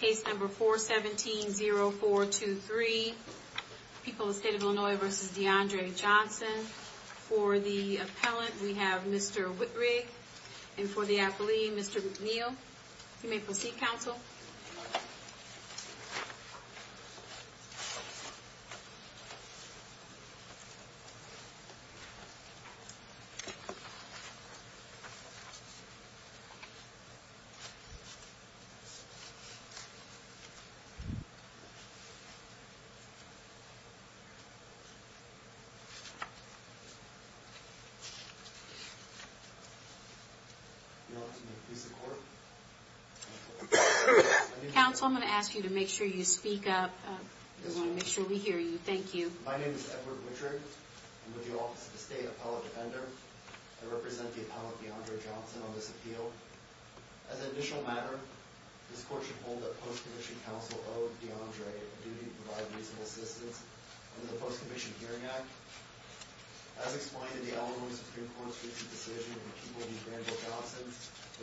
Case number 417-0423, People of the State of Illinois v. DeAndre Johnson. For the appellant, we have Mr. Whitrig. And for the athlete, Mr. McNeil. You may proceed, counsel. Counsel, I'm going to ask you to make sure you speak up. We want to make sure we hear you. Thank you. My name is Edward Whitrig. I'm with the Office of the State Appellate Defender. I represent the appellant, DeAndre Johnson, on this appeal. As an additional matter, this court should hold that post-commission counsel owe DeAndre a duty to provide reasonable assistance under the Post-Commission Hearing Act. As explained in the Illinois Supreme Court's recent decision in the People v. DeAndre Johnson,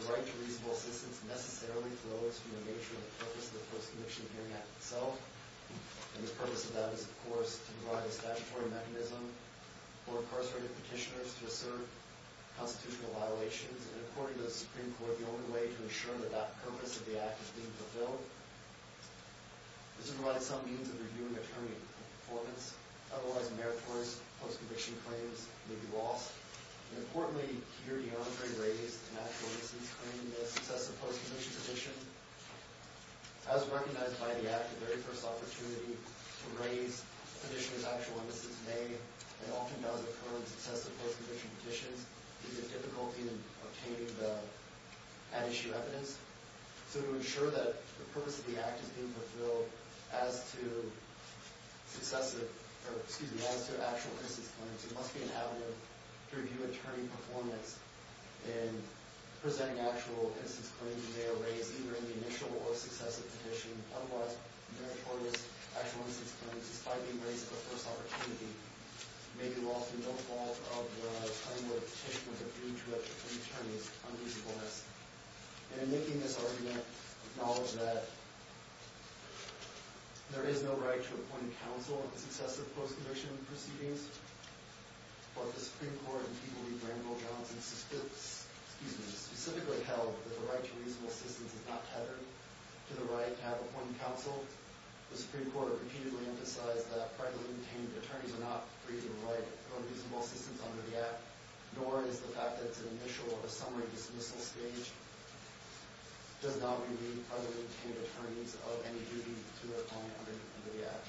the right to reasonable assistance necessarily flows from the nature and purpose of the Post-Commission Hearing Act itself. And the purpose of that is, of course, to provide a statutory mechanism for incarcerated petitioners to assert constitutional violations. And according to the Supreme Court, the only way to ensure that that purpose of the act is being fulfilled is to provide some means of review and attorney performance. Otherwise, meritorious post-commission claims may be lost. Importantly, here DeAndre raised an actual innocence claim, a successive post-commission petition. As recognized by the Act, the very first opportunity to raise a petitioner's actual innocence may and often does occur in successive post-commission petitions due to difficulty in obtaining the at-issue evidence. So to ensure that the purpose of the act is being fulfilled as to actual innocence claims, it must be inhabitant to review attorney performance in presenting actual innocence claims that may have been raised either in the initial or successive petition. Otherwise, meritorious actual innocence claims, despite being raised at the first opportunity, may be lost in the fall of the time where the petitioner is refuted by attorneys on reasonableness. And in making this argument, acknowledge that there is no right to appoint counsel in successive post-commission proceedings. But the Supreme Court and people like Randall Johnson specifically held that the right to reasonable appoint counsel, the Supreme Court repeatedly emphasized that privately obtained attorneys are not free to provide unreasonable assistance under the Act, nor is the fact that it's an initial or a summary dismissal stage does not relieve privately obtained attorneys of any duty to their client under the Act.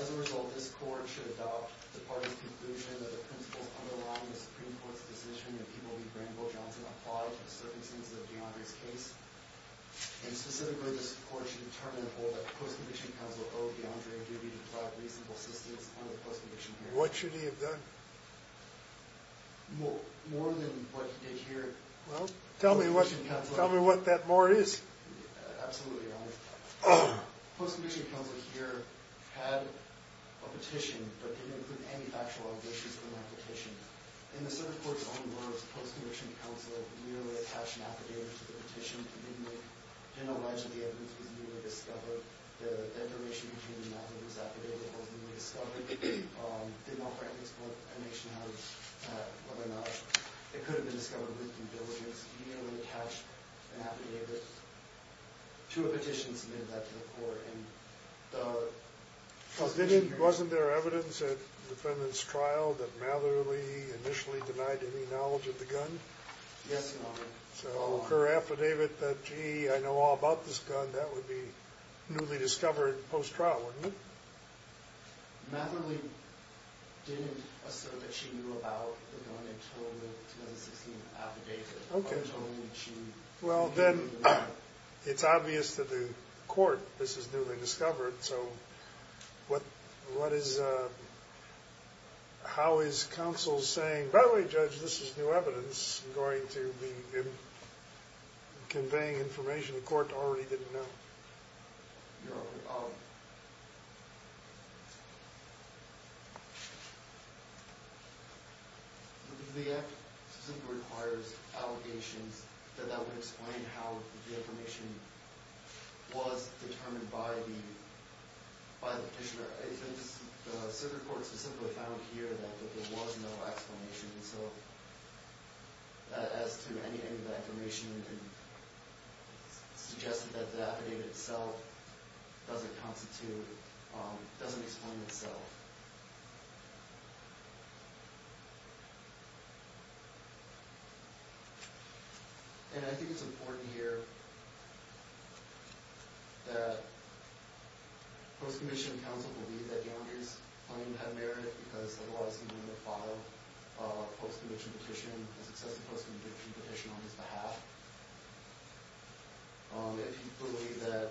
As a result, this Court should adopt the party's conclusion that the principles underlying the Supreme Court's decision and people like Randall Johnson apply to the circumstances of DeAndre's case. And specifically, this Court should determine the role that post-commission counsel owe DeAndre duty to provide reasonable assistance under the post-commission period. What should he have done? More than what he did here. Well, tell me what that more is. Absolutely, Your Honor. Post-commission counsel here had a petition, but didn't include any factual objections to that petition. In the Supreme Court's own words, post-commission counsel merely attached an affidavit to the petition. He didn't allege that the evidence was newly discovered. The information between the affidavit and the affidavit was newly discovered. It did not break the explanation of whether or not it could have been discovered with due diligence. He merely attached an affidavit to a petition and submitted that to the Court. Wasn't there evidence at the defendant's trial that Matherly initially denied any knowledge of the gun? Yes, Your Honor. So her affidavit that, gee, I know all about this gun, that would be newly discovered post-trial, wouldn't it? Matherly didn't assert that she knew about the gun until the 2016 affidavit. Well, then, it's obvious to the Court this is newly discovered, so how is counsel saying, by the way, Judge, this is new evidence, and going to be conveying information the Court already didn't know? Your Honor, I'll... The act specifically requires allegations that that would explain how the information was determined by the petitioner. The Circuit Court specifically found here that there was no explanation. So as to any end of that information, it suggested that the affidavit itself doesn't constitute, doesn't explain itself. And I think it's important here that Post-Commissioned Counsel believe that Young is claiming to have merit because of the Lawsuit No. 5 Post-Commissioned Petition, a successful Post-Commissioned Petition on his behalf. If he believed that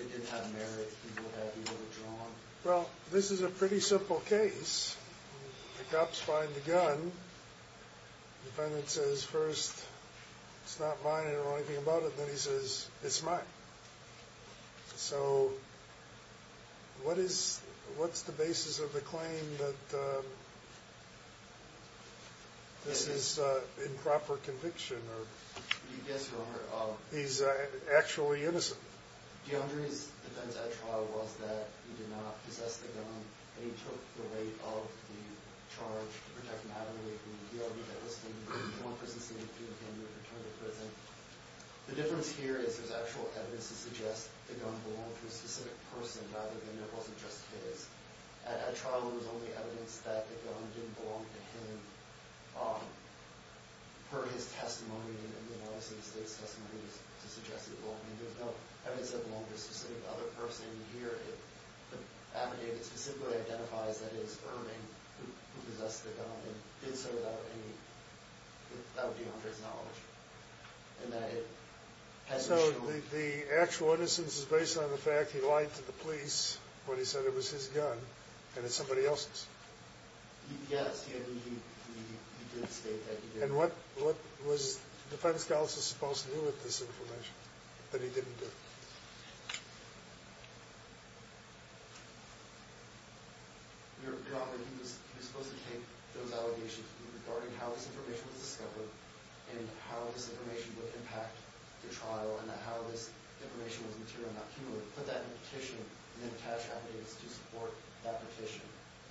it didn't have merit, he would have withdrawn. Well, this is a pretty simple case. The cops find the gun. The defendant says, first, it's not mine, I don't know anything about it. Then he says, it's mine. So what is, what's the basis of the claim that this is improper conviction? Yes, Your Honor. He's actually innocent. DeAndre's defense at trial was that he did not possess the gun, and he took the weight of the charge to protect Natalie from the D.R.B. that was standing between him and prison, standing between him and the return to prison. The difference here is there's actual evidence to suggest the gun belonged to a specific person, rather than it wasn't just his. At trial, there was only evidence that the gun didn't belong to him. Per his testimony, and obviously the State's testimony, to suggest it belonged to him, there's no evidence that it belonged to a specific other person. Here, the affidavit specifically identifies that it is Irving who possessed the gun and did so without any, without DeAndre's knowledge, and that it has been shown. So the actual innocence is based on the fact he lied to the police when he said it was his gun and it's somebody else's? Yes, he did state that he did. And what was defense counsel supposed to do with this information that he didn't do? Your Honor, he was supposed to take those allegations regarding how this information was discovered and how this information would impact the trial and how this information was material not cumulative, put that in a petition and attach affidavits to support that petition,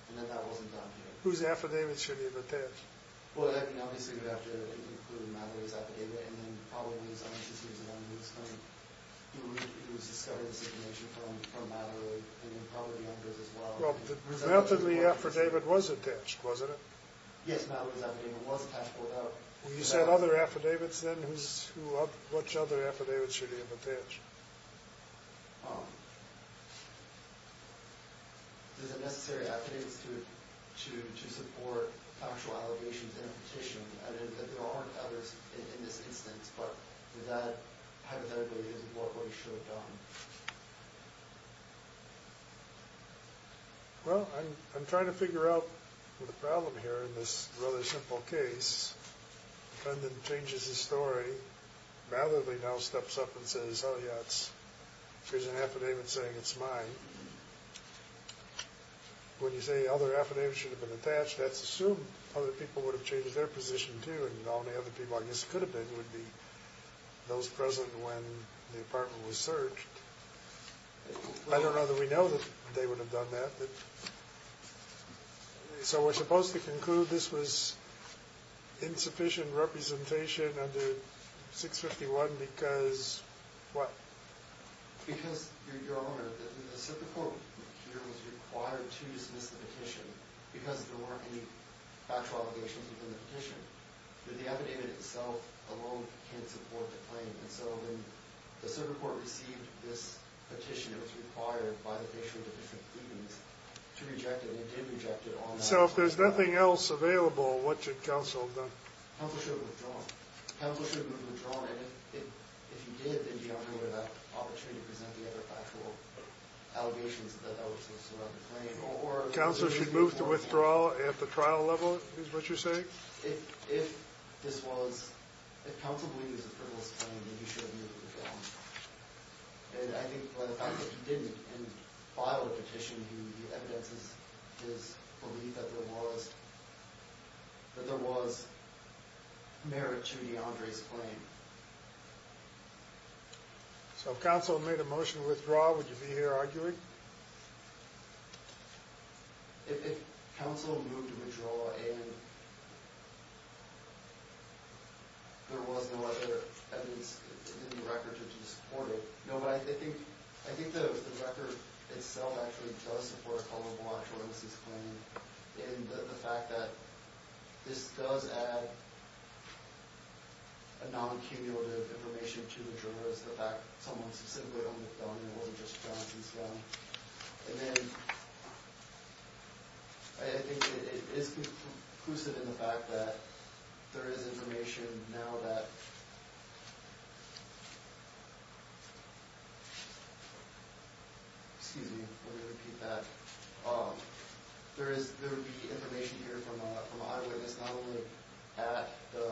and that that wasn't done here. Whose affidavits should he have attached? Well, I mean, obviously you'd have to include Madderay's affidavit, and then probably his own since he was an undisclosed criminal. He was discovering this information from Madderay, and then probably DeAndre's as well. Well, the relatively affidavit was attached, wasn't it? Yes, Madderay's affidavit was attached without... You said other affidavits, then? Which other affidavits should he have attached? There's a necessary affidavits to support factual allegations in a petition. There aren't others in this instance, but that affidavit isn't what he should have done. Well, I'm trying to figure out the problem here in this rather simple case. The defendant changes his story. Madderay now steps up and says, oh, yeah, here's an affidavit saying it's mine. When you say other affidavits should have been attached, that's assumed other people would have changed their position too, and the only other people I guess it could have been would be those present when the apartment was searched. I don't know that we know that they would have done that. So we're supposed to conclude this was insufficient representation under 651 because what? Because, Your Honor, the circuit court here was required to dismiss the petition because there weren't any factual allegations within the petition. The affidavit itself alone can't support the claim. And so when the circuit court received this petition, it was required by the issue of the different claimants to reject it. And they did reject it. So if there's nothing else available, what should counsel have done? Counsel should have withdrawn. Counsel should have withdrawn, and if you did, then you don't have that opportunity to present the other factual allegations that that would have surrounded the claim. Counsel should move to withdraw at the trial level is what you're saying? If this was, if counsel believed this was a frivolous claim, then he should have moved to withdraw. And I think by the fact that he didn't and filed a petition, the evidence is his belief that there was, that there was merit to DeAndre's claim. So if counsel made a motion to withdraw, would you be here arguing? If counsel moved to withdraw and there was no other evidence in the record to support it. No, but I think, I think the record itself actually does support a color-blind premises claim. And the fact that this does add a non-cumulative information to the jurors, the fact that someone specifically on McDonough wasn't just Johnson's son. And then, I think it is conclusive in the fact that there is information now that, excuse me, let me repeat that. There is, there would be information here from a, from a eyewitness not only at the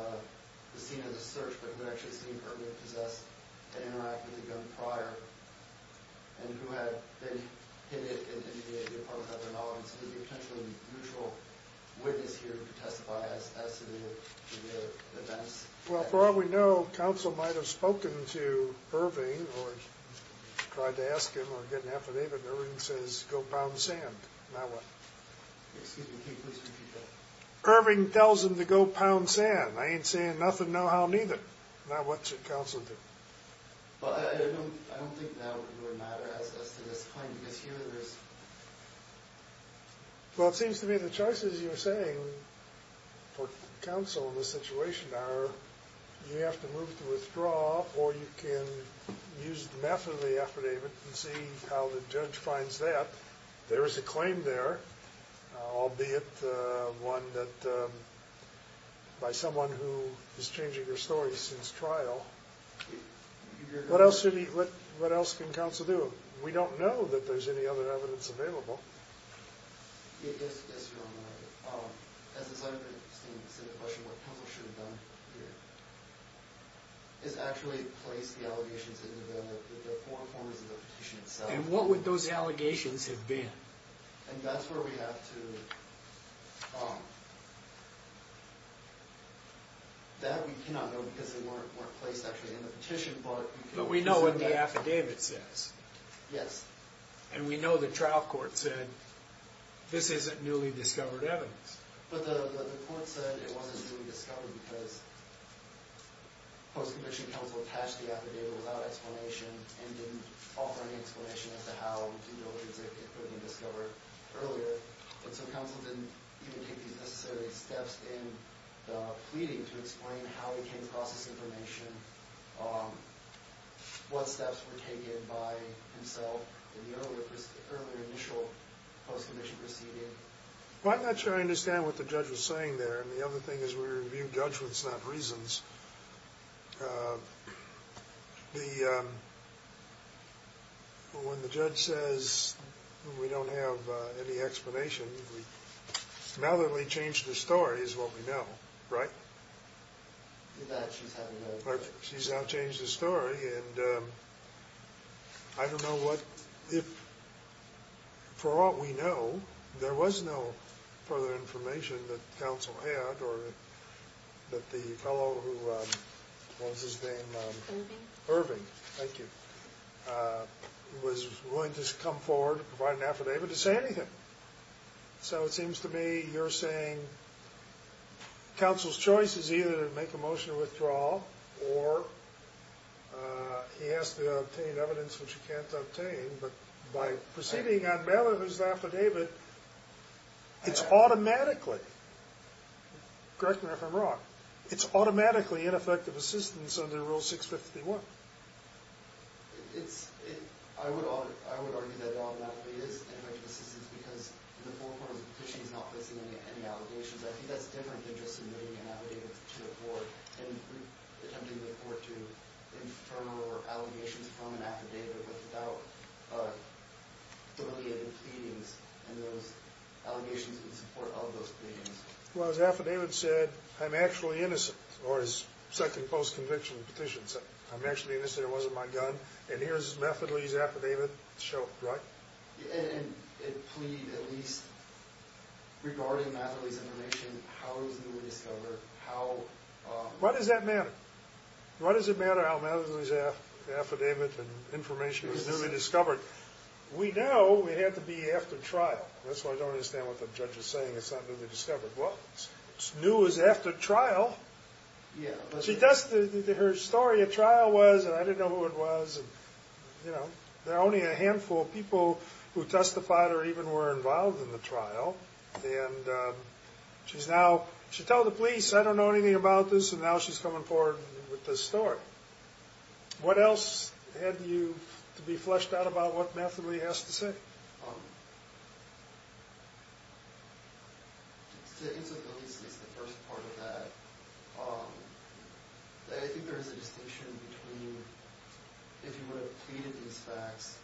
scene of the search, but who had actually seen Irving possessed and interacted with a gun prior, and who had been hidden in the apartment of their knowledge. So there would be a potential mutual witness here to testify as to the events. Well, for all we know, counsel might have spoken to Irving or tried to ask him or get an affidavit. Irving says, go pound sand. Now what? Excuse me, can you please repeat that? Now what should counsel do? Well, it seems to me the choices you're saying for counsel in this situation are, you have to move to withdraw or you can use the method of the affidavit and see how the judge finds that. There is a claim there, albeit one that, by someone who is changing their story since trial. What else should he, what else can counsel do? We don't know that there's any other evidence available. Yes, Your Honor. As a side note to the question of what counsel should have done here, is actually place the allegations in the form of the petition itself. And what would those allegations have been? And that's where we have to, that we cannot know because they weren't placed actually in the petition. But we know what the affidavit says. Yes. And we know the trial court said, this isn't newly discovered evidence. But the court said it wasn't newly discovered because post-conviction counsel attached the affidavit without explanation and didn't offer any explanation as to how the allegations had been discovered earlier. And so counsel didn't even take these necessary steps in the pleading to explain how he came across this information, what steps were taken by himself in the earlier initial post-conviction proceeding. Well, I'm not sure I understand what the judge was saying there. And the other thing is we review judgments, not reasons. When the judge says we don't have any explanation, now that we've changed the story is what we know, right? She's now changed the story. And I don't know what, if for all we know, there was no further information that counsel had or that the fellow who, what was his name? Irving. Irving, thank you, was willing to come forward, provide an affidavit, to say anything. So it seems to me you're saying counsel's choice is either to make a motion to withdraw or he has to obtain evidence which he can't obtain. But by proceeding on bailiff's affidavit, it's automatically, correct me if I'm wrong, it's automatically ineffective assistance under Rule 651. It's, I would argue that it automatically is ineffective assistance because the full form of the petition is not facing any allegations. I think that's different than just submitting an affidavit to the court and attempting the court to infer or allegations from an affidavit without delegating pleadings and those allegations in support of those pleadings. Well, as affidavit said, I'm actually innocent, or as second post-conviction petition said, I'm actually innocent. It wasn't my gun. And here's Methodley's affidavit. It showed, right? And it pleaded at least regarding Methodley's information, how it was newly discovered. What does that matter? What does it matter how Methodley's affidavit and information was newly discovered? We know it had to be after trial. That's why I don't understand what the judge is saying. It's not newly discovered. Well, it's new as after trial. Yeah. Her story at trial was, and I didn't know who it was, and there are only a handful of people who testified or even were involved in the trial. And she's now, she told the police, I don't know anything about this, and now she's coming forward with this story. What else had to be fleshed out about what Methodley has to say? The incivility is the first part of that. I think there is a distinction between if you would have pleaded these facts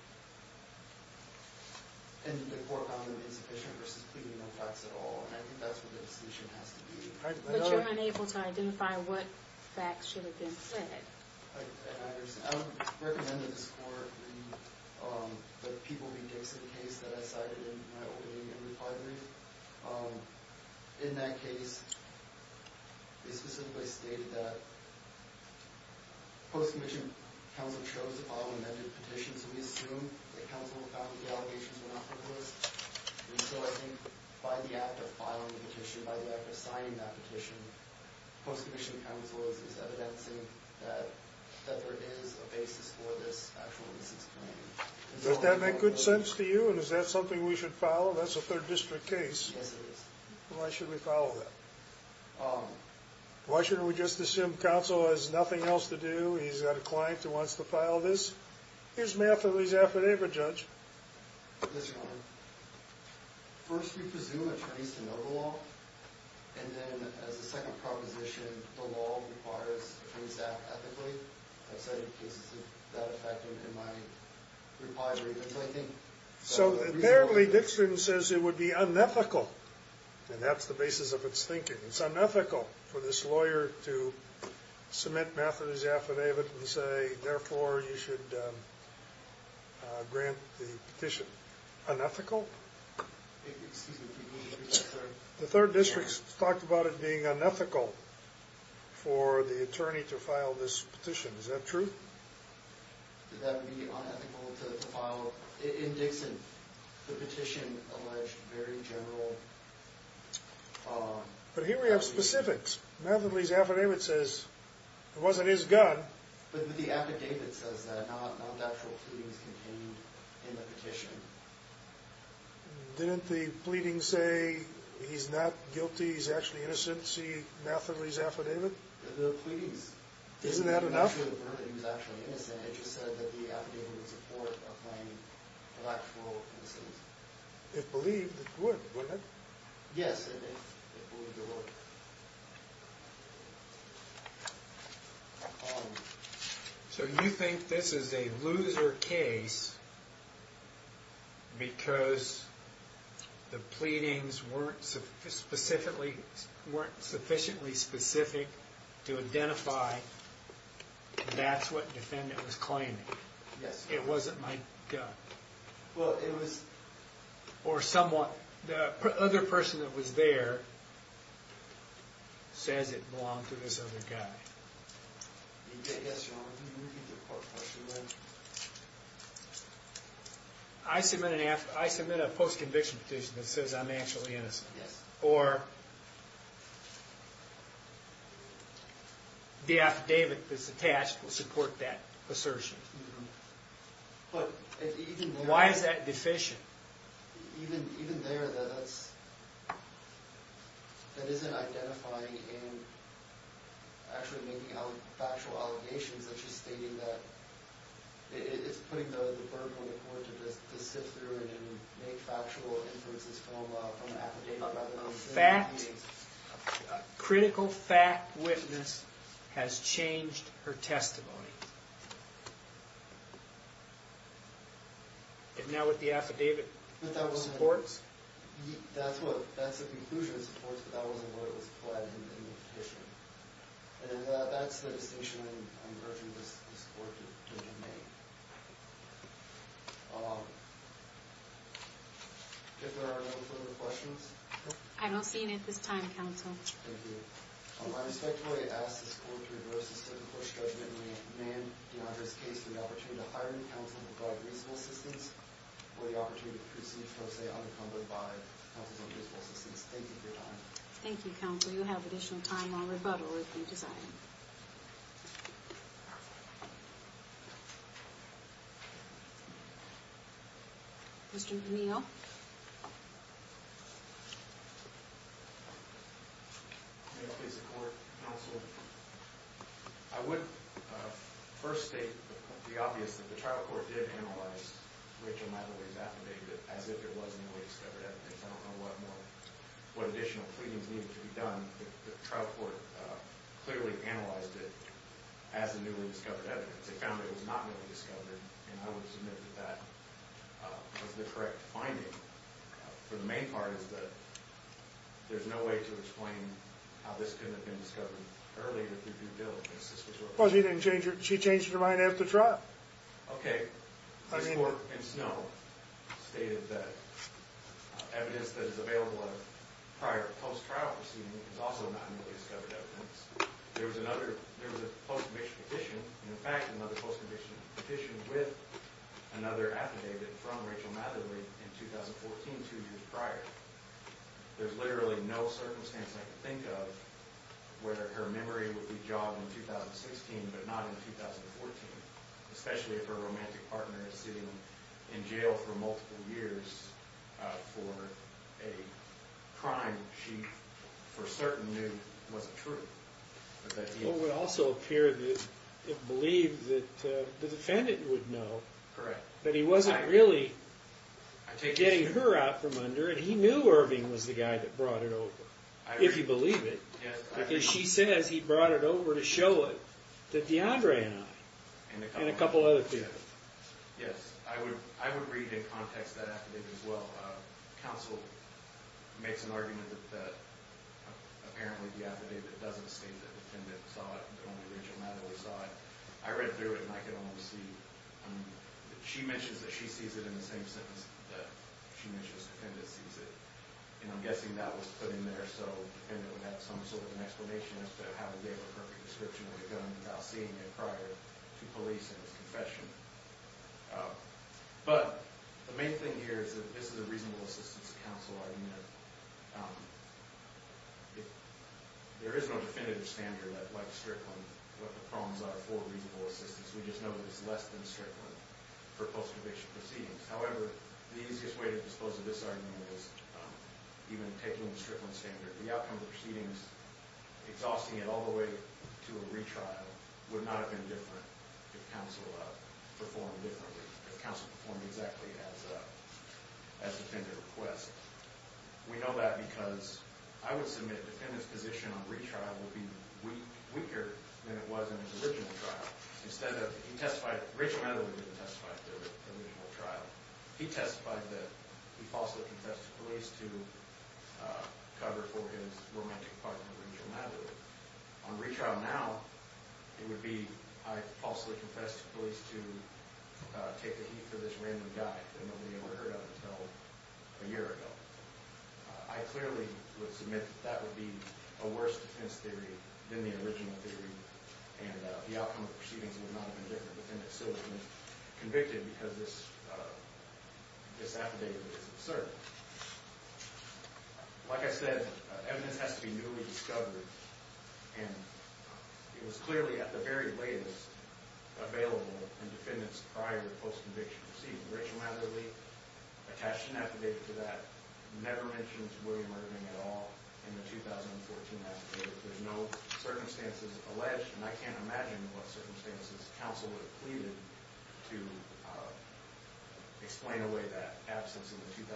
and the court found them insufficient versus pleading no facts at all. And I think that's what the distinction has to be. But you're unable to identify what facts should have been said. I would recommend that this court read the People v. Dixon case that I cited in my opening and recovery. In that case, they specifically stated that post-commissioned counsel chose to file amended petitions, and we assume that counsel found that the allegations were not frivolous. And so I think by the act of filing the petition, by the act of signing that petition, post-commissioned counsel is evidencing that there is a basis for this actual mis-explanation. Does that make good sense to you, and is that something we should follow? That's a third district case. Yes, it is. Why should we follow that? Why shouldn't we just assume counsel has nothing else to do, he's got a client who wants to file this? Here's Methodley's affidavit, Judge. Yes, Your Honor. First, we presume attorneys to know the law, and then as a second proposition, the law requires a free staff ethically. I've cited cases of that effect in my recovery. So, apparently, Dixon says it would be unethical, and that's the basis of its thinking. It's unethical for this lawyer to submit Methodley's affidavit and say, therefore, you should grant the petition. Unethical? Excuse me. The third district's talked about it being unethical for the attorney to file this petition. Is that true? That would be unethical to file in Dixon. The petition alleged very general... But here we have specifics. Methodley's affidavit says it wasn't his gun. But the affidavit says that non-factual pleadings contained in the petition. Didn't the pleading say he's not guilty, he's actually innocent, see Methodley's affidavit? The pleadings... Isn't that enough? He was actually innocent. It just said that the affidavit would support applying the factual instances. It believed it would, wouldn't it? Yes, it believed it would. So you think this is a loser case because the pleadings weren't sufficiently specific to identify that's what the defendant was claiming. Yes. It wasn't my gun. Well, it was... Or someone... The other person that was there says it belonged to this other guy. Yes, Your Honor. Can you repeat the part of the question again? I submit a post-conviction petition that says I'm actually innocent. Yes. Or... The affidavit that's attached will support that assertion. Why is that deficient? Even there, that isn't identifying and actually making factual allegations. It's just stating that... It's putting the burden on the court to sit through it and make factual inferences from the affidavit. A critical fact witness has changed her testimony. And now with the affidavit, it supports? That's the conclusion it supports, but that wasn't where it was applied in the petition. And that's the distinction I'm urging this court to make. If there are no further questions... I don't see any at this time, counsel. Thank you. I respectfully ask this court to reverse the 7th Court's judgment and remand DeAndre's case for the opportunity to hire him, counsel, and provide reasonable assistance for the opportunity to proceed from, say, unencumbered by counsel's own reasonable assistance. Thank you for your time. Thank you, counsel. You'll have additional time on rebuttal if you desire. Mr. O'Neill? May I please support, counsel? I would first state the obvious, that the trial court did analyze Rachel Madeley's affidavit as if it was a newly discovered evidence. I don't know what additional pleadings needed to be done, but the trial court clearly analyzed it as a newly discovered evidence. They found that it was not newly discovered, and I would submit that that was the correct finding. The main part is that there's no way to explain how this couldn't have been discovered earlier through due diligence. Well, she changed her mind after trial. Okay. This court in Snow stated that evidence that is available of prior post-trial proceedings is also not newly discovered evidence. There was a post-conviction petition, in fact, another post-conviction petition with another affidavit from Rachel Madeley in 2014, two years prior. There's literally no circumstance I can think of where her memory would be jogged in 2016, but not in 2014, especially if her romantic partner is sitting in jail for multiple years for a crime she for certain knew wasn't true. It would also appear that it believed that the defendant would know, but he wasn't really getting her out from under it. He knew Irving was the guy that brought it over, if you believe it, because she says he brought it over to show it to DeAndre and I and a couple other people. Yes, I would read in context that affidavit as well. Counsel makes an argument that apparently the affidavit doesn't state that the defendant saw it, that only Rachel Madeley saw it. I read through it and I could only see that she mentions that she sees it in the same sentence that she mentions the defendant sees it, and I'm guessing that was put in there so the defendant would have some sort of an explanation as to how he gave her her conscription with a gun without seeing it prior to police and his confession. But the main thing here is that this is a reasonable assistance to counsel argument that there is no definitive standard like Strickland what the problems are for reasonable assistance. We just know that it's less than Strickland for post-conviction proceedings. However, the easiest way to dispose of this argument is even taking the Strickland standard. The outcome of the proceedings, exhausting it all the way to a retrial, would not have been different if counsel performed differently, if counsel performed exactly as the defendant requests. We know that because I would submit the defendant's position on retrial would be weaker than it was in his original trial. Instead of... he testified... Rachel Madeley didn't testify at the original trial. He testified that he falsely confessed to police to cover for his romantic partner, Rachel Madeley. On retrial now, it would be I falsely confessed to police to take the heat for this random guy that nobody ever heard of until a year ago. I clearly would submit that that would be a worse defense theory than the original theory, and the outcome of the proceedings would not have been different if the defendant still hadn't been convicted because this affidavit is absurd. Like I said, evidence has to be newly discovered, and it was clearly at the very latest available in defendants' prior post-conviction proceedings. Rachel Madeley attached an affidavit to that, never mentioned to William Irving at all in the 2014 affidavit. There's no circumstances alleged, and I can't imagine what circumstances counsel would have pleaded to explain away that absence in the 2014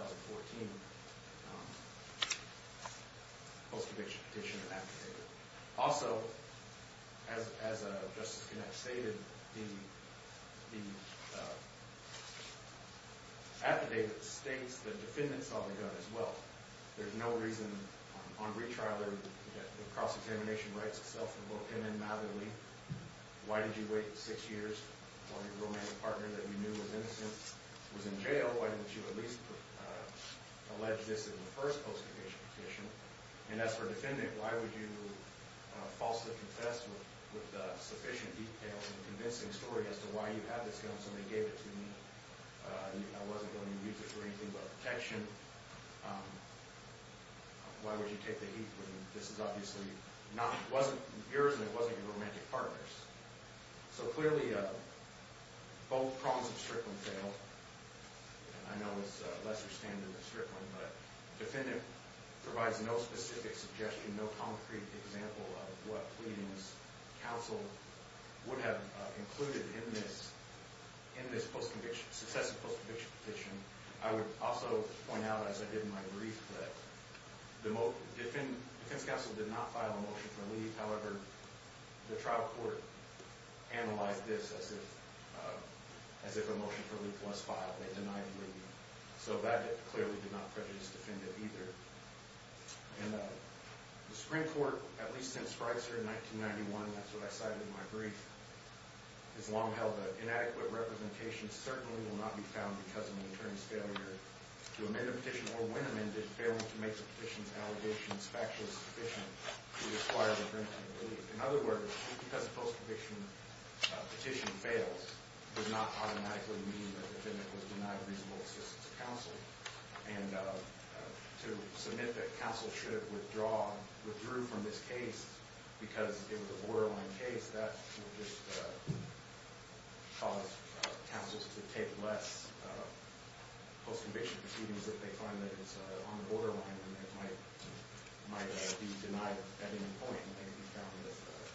post-conviction petition affidavit. Also, as Justice Connett stated, the affidavit states the defendants on the gun as well. There's no reason on retrial or cross-examination rights itself for both him and Madeley. Why did you wait six years while your romantic partner that you knew was innocent was in jail? Why didn't you at least allege this in the first post-conviction petition? And as for a defendant, why would you falsely confess with sufficient detail and convincing story as to why you had this gun, so they gave it to me? I wasn't going to use it for anything but protection. Why would you take the heat when this is obviously not... It wasn't yours, and it wasn't your romantic partner's. So clearly, both prongs of Strickland failed. I know it's a lesser standard than Strickland, but the defendant provides no specific suggestion, no concrete example of what pleadings counsel would have included in this successive post-conviction petition. I would also point out, as I did in my brief, that the defense counsel did not file a motion for leave. However, the trial court analyzed this as if a motion for leave was filed. They denied leave. So that clearly did not prejudice the defendant either. And the Supreme Court, at least since Frieser in 1991, that's what I cited in my brief, has long held that inadequate representation certainly will not be found because of an attorney's failure to amend a petition or, when amended, failing to make the petition's allegations factually sufficient to require the defendant to leave. In other words, just because a post-conviction petition fails does not automatically mean that the defendant was denied reasonable assistance of counsel. And to submit that counsel should have withdrew from this case because it was a borderline case, that would just cause counsels to take less post-conviction proceedings if they find that it's on the borderline and it might be denied at any point in taking account of the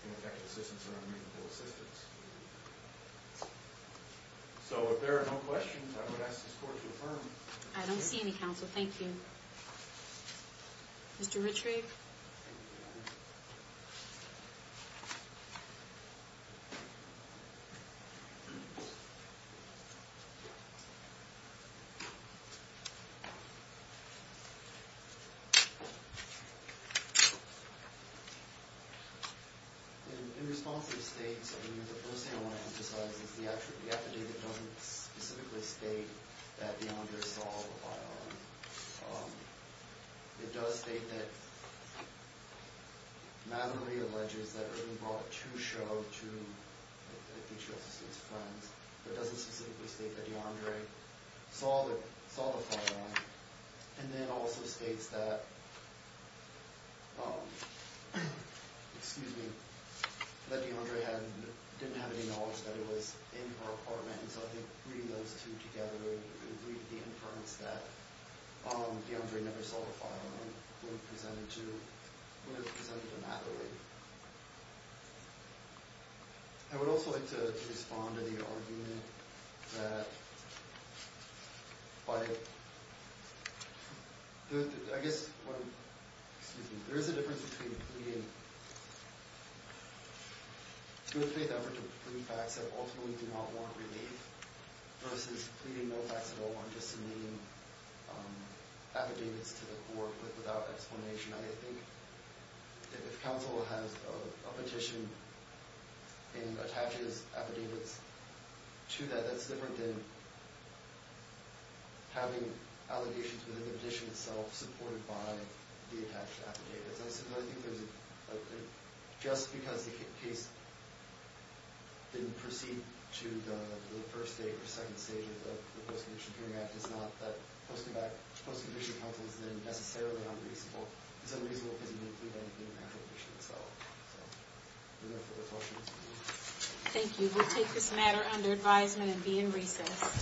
ineffectual assistance or unreasonable assistance. So if there are no questions, I would ask this court to affirm. I don't see any, counsel. Thank you. Mr. Ritchrie? Thank you. In response to the statement, the first thing I want to emphasize is the affidavit doesn't specifically state that DeAndre saw the fire alarm. It does state that, not everybody alleges that Irving brought a true show to, I think she also states friends, but it doesn't specifically state that DeAndre saw the fire alarm. And then it also states that, excuse me, that DeAndre didn't have any knowledge that it was in her apartment, and so I think reading those two together would read the inference that DeAndre never saw the fire alarm when it was presented to Natalie. I would also like to respond to the argument that by, I guess, excuse me, there is a difference between pleading, to a faith effort to prove facts that ultimately do not warrant relief versus pleading no facts at all or just naming affidavits to the court without explanation. I think if counsel has a petition and attaches affidavits to that, that's different than having allegations within the petition itself supported by the attached affidavits. Just because the case didn't proceed to the first stage or second stage of the Post-Condition Peering Act does not mean that posting back to Post-Condition Counsel is then necessarily unreasonable. It's unreasonable because it didn't include anything in the actual petition itself. Any other further questions? Thank you. We'll take this matter under advisement and be in recess.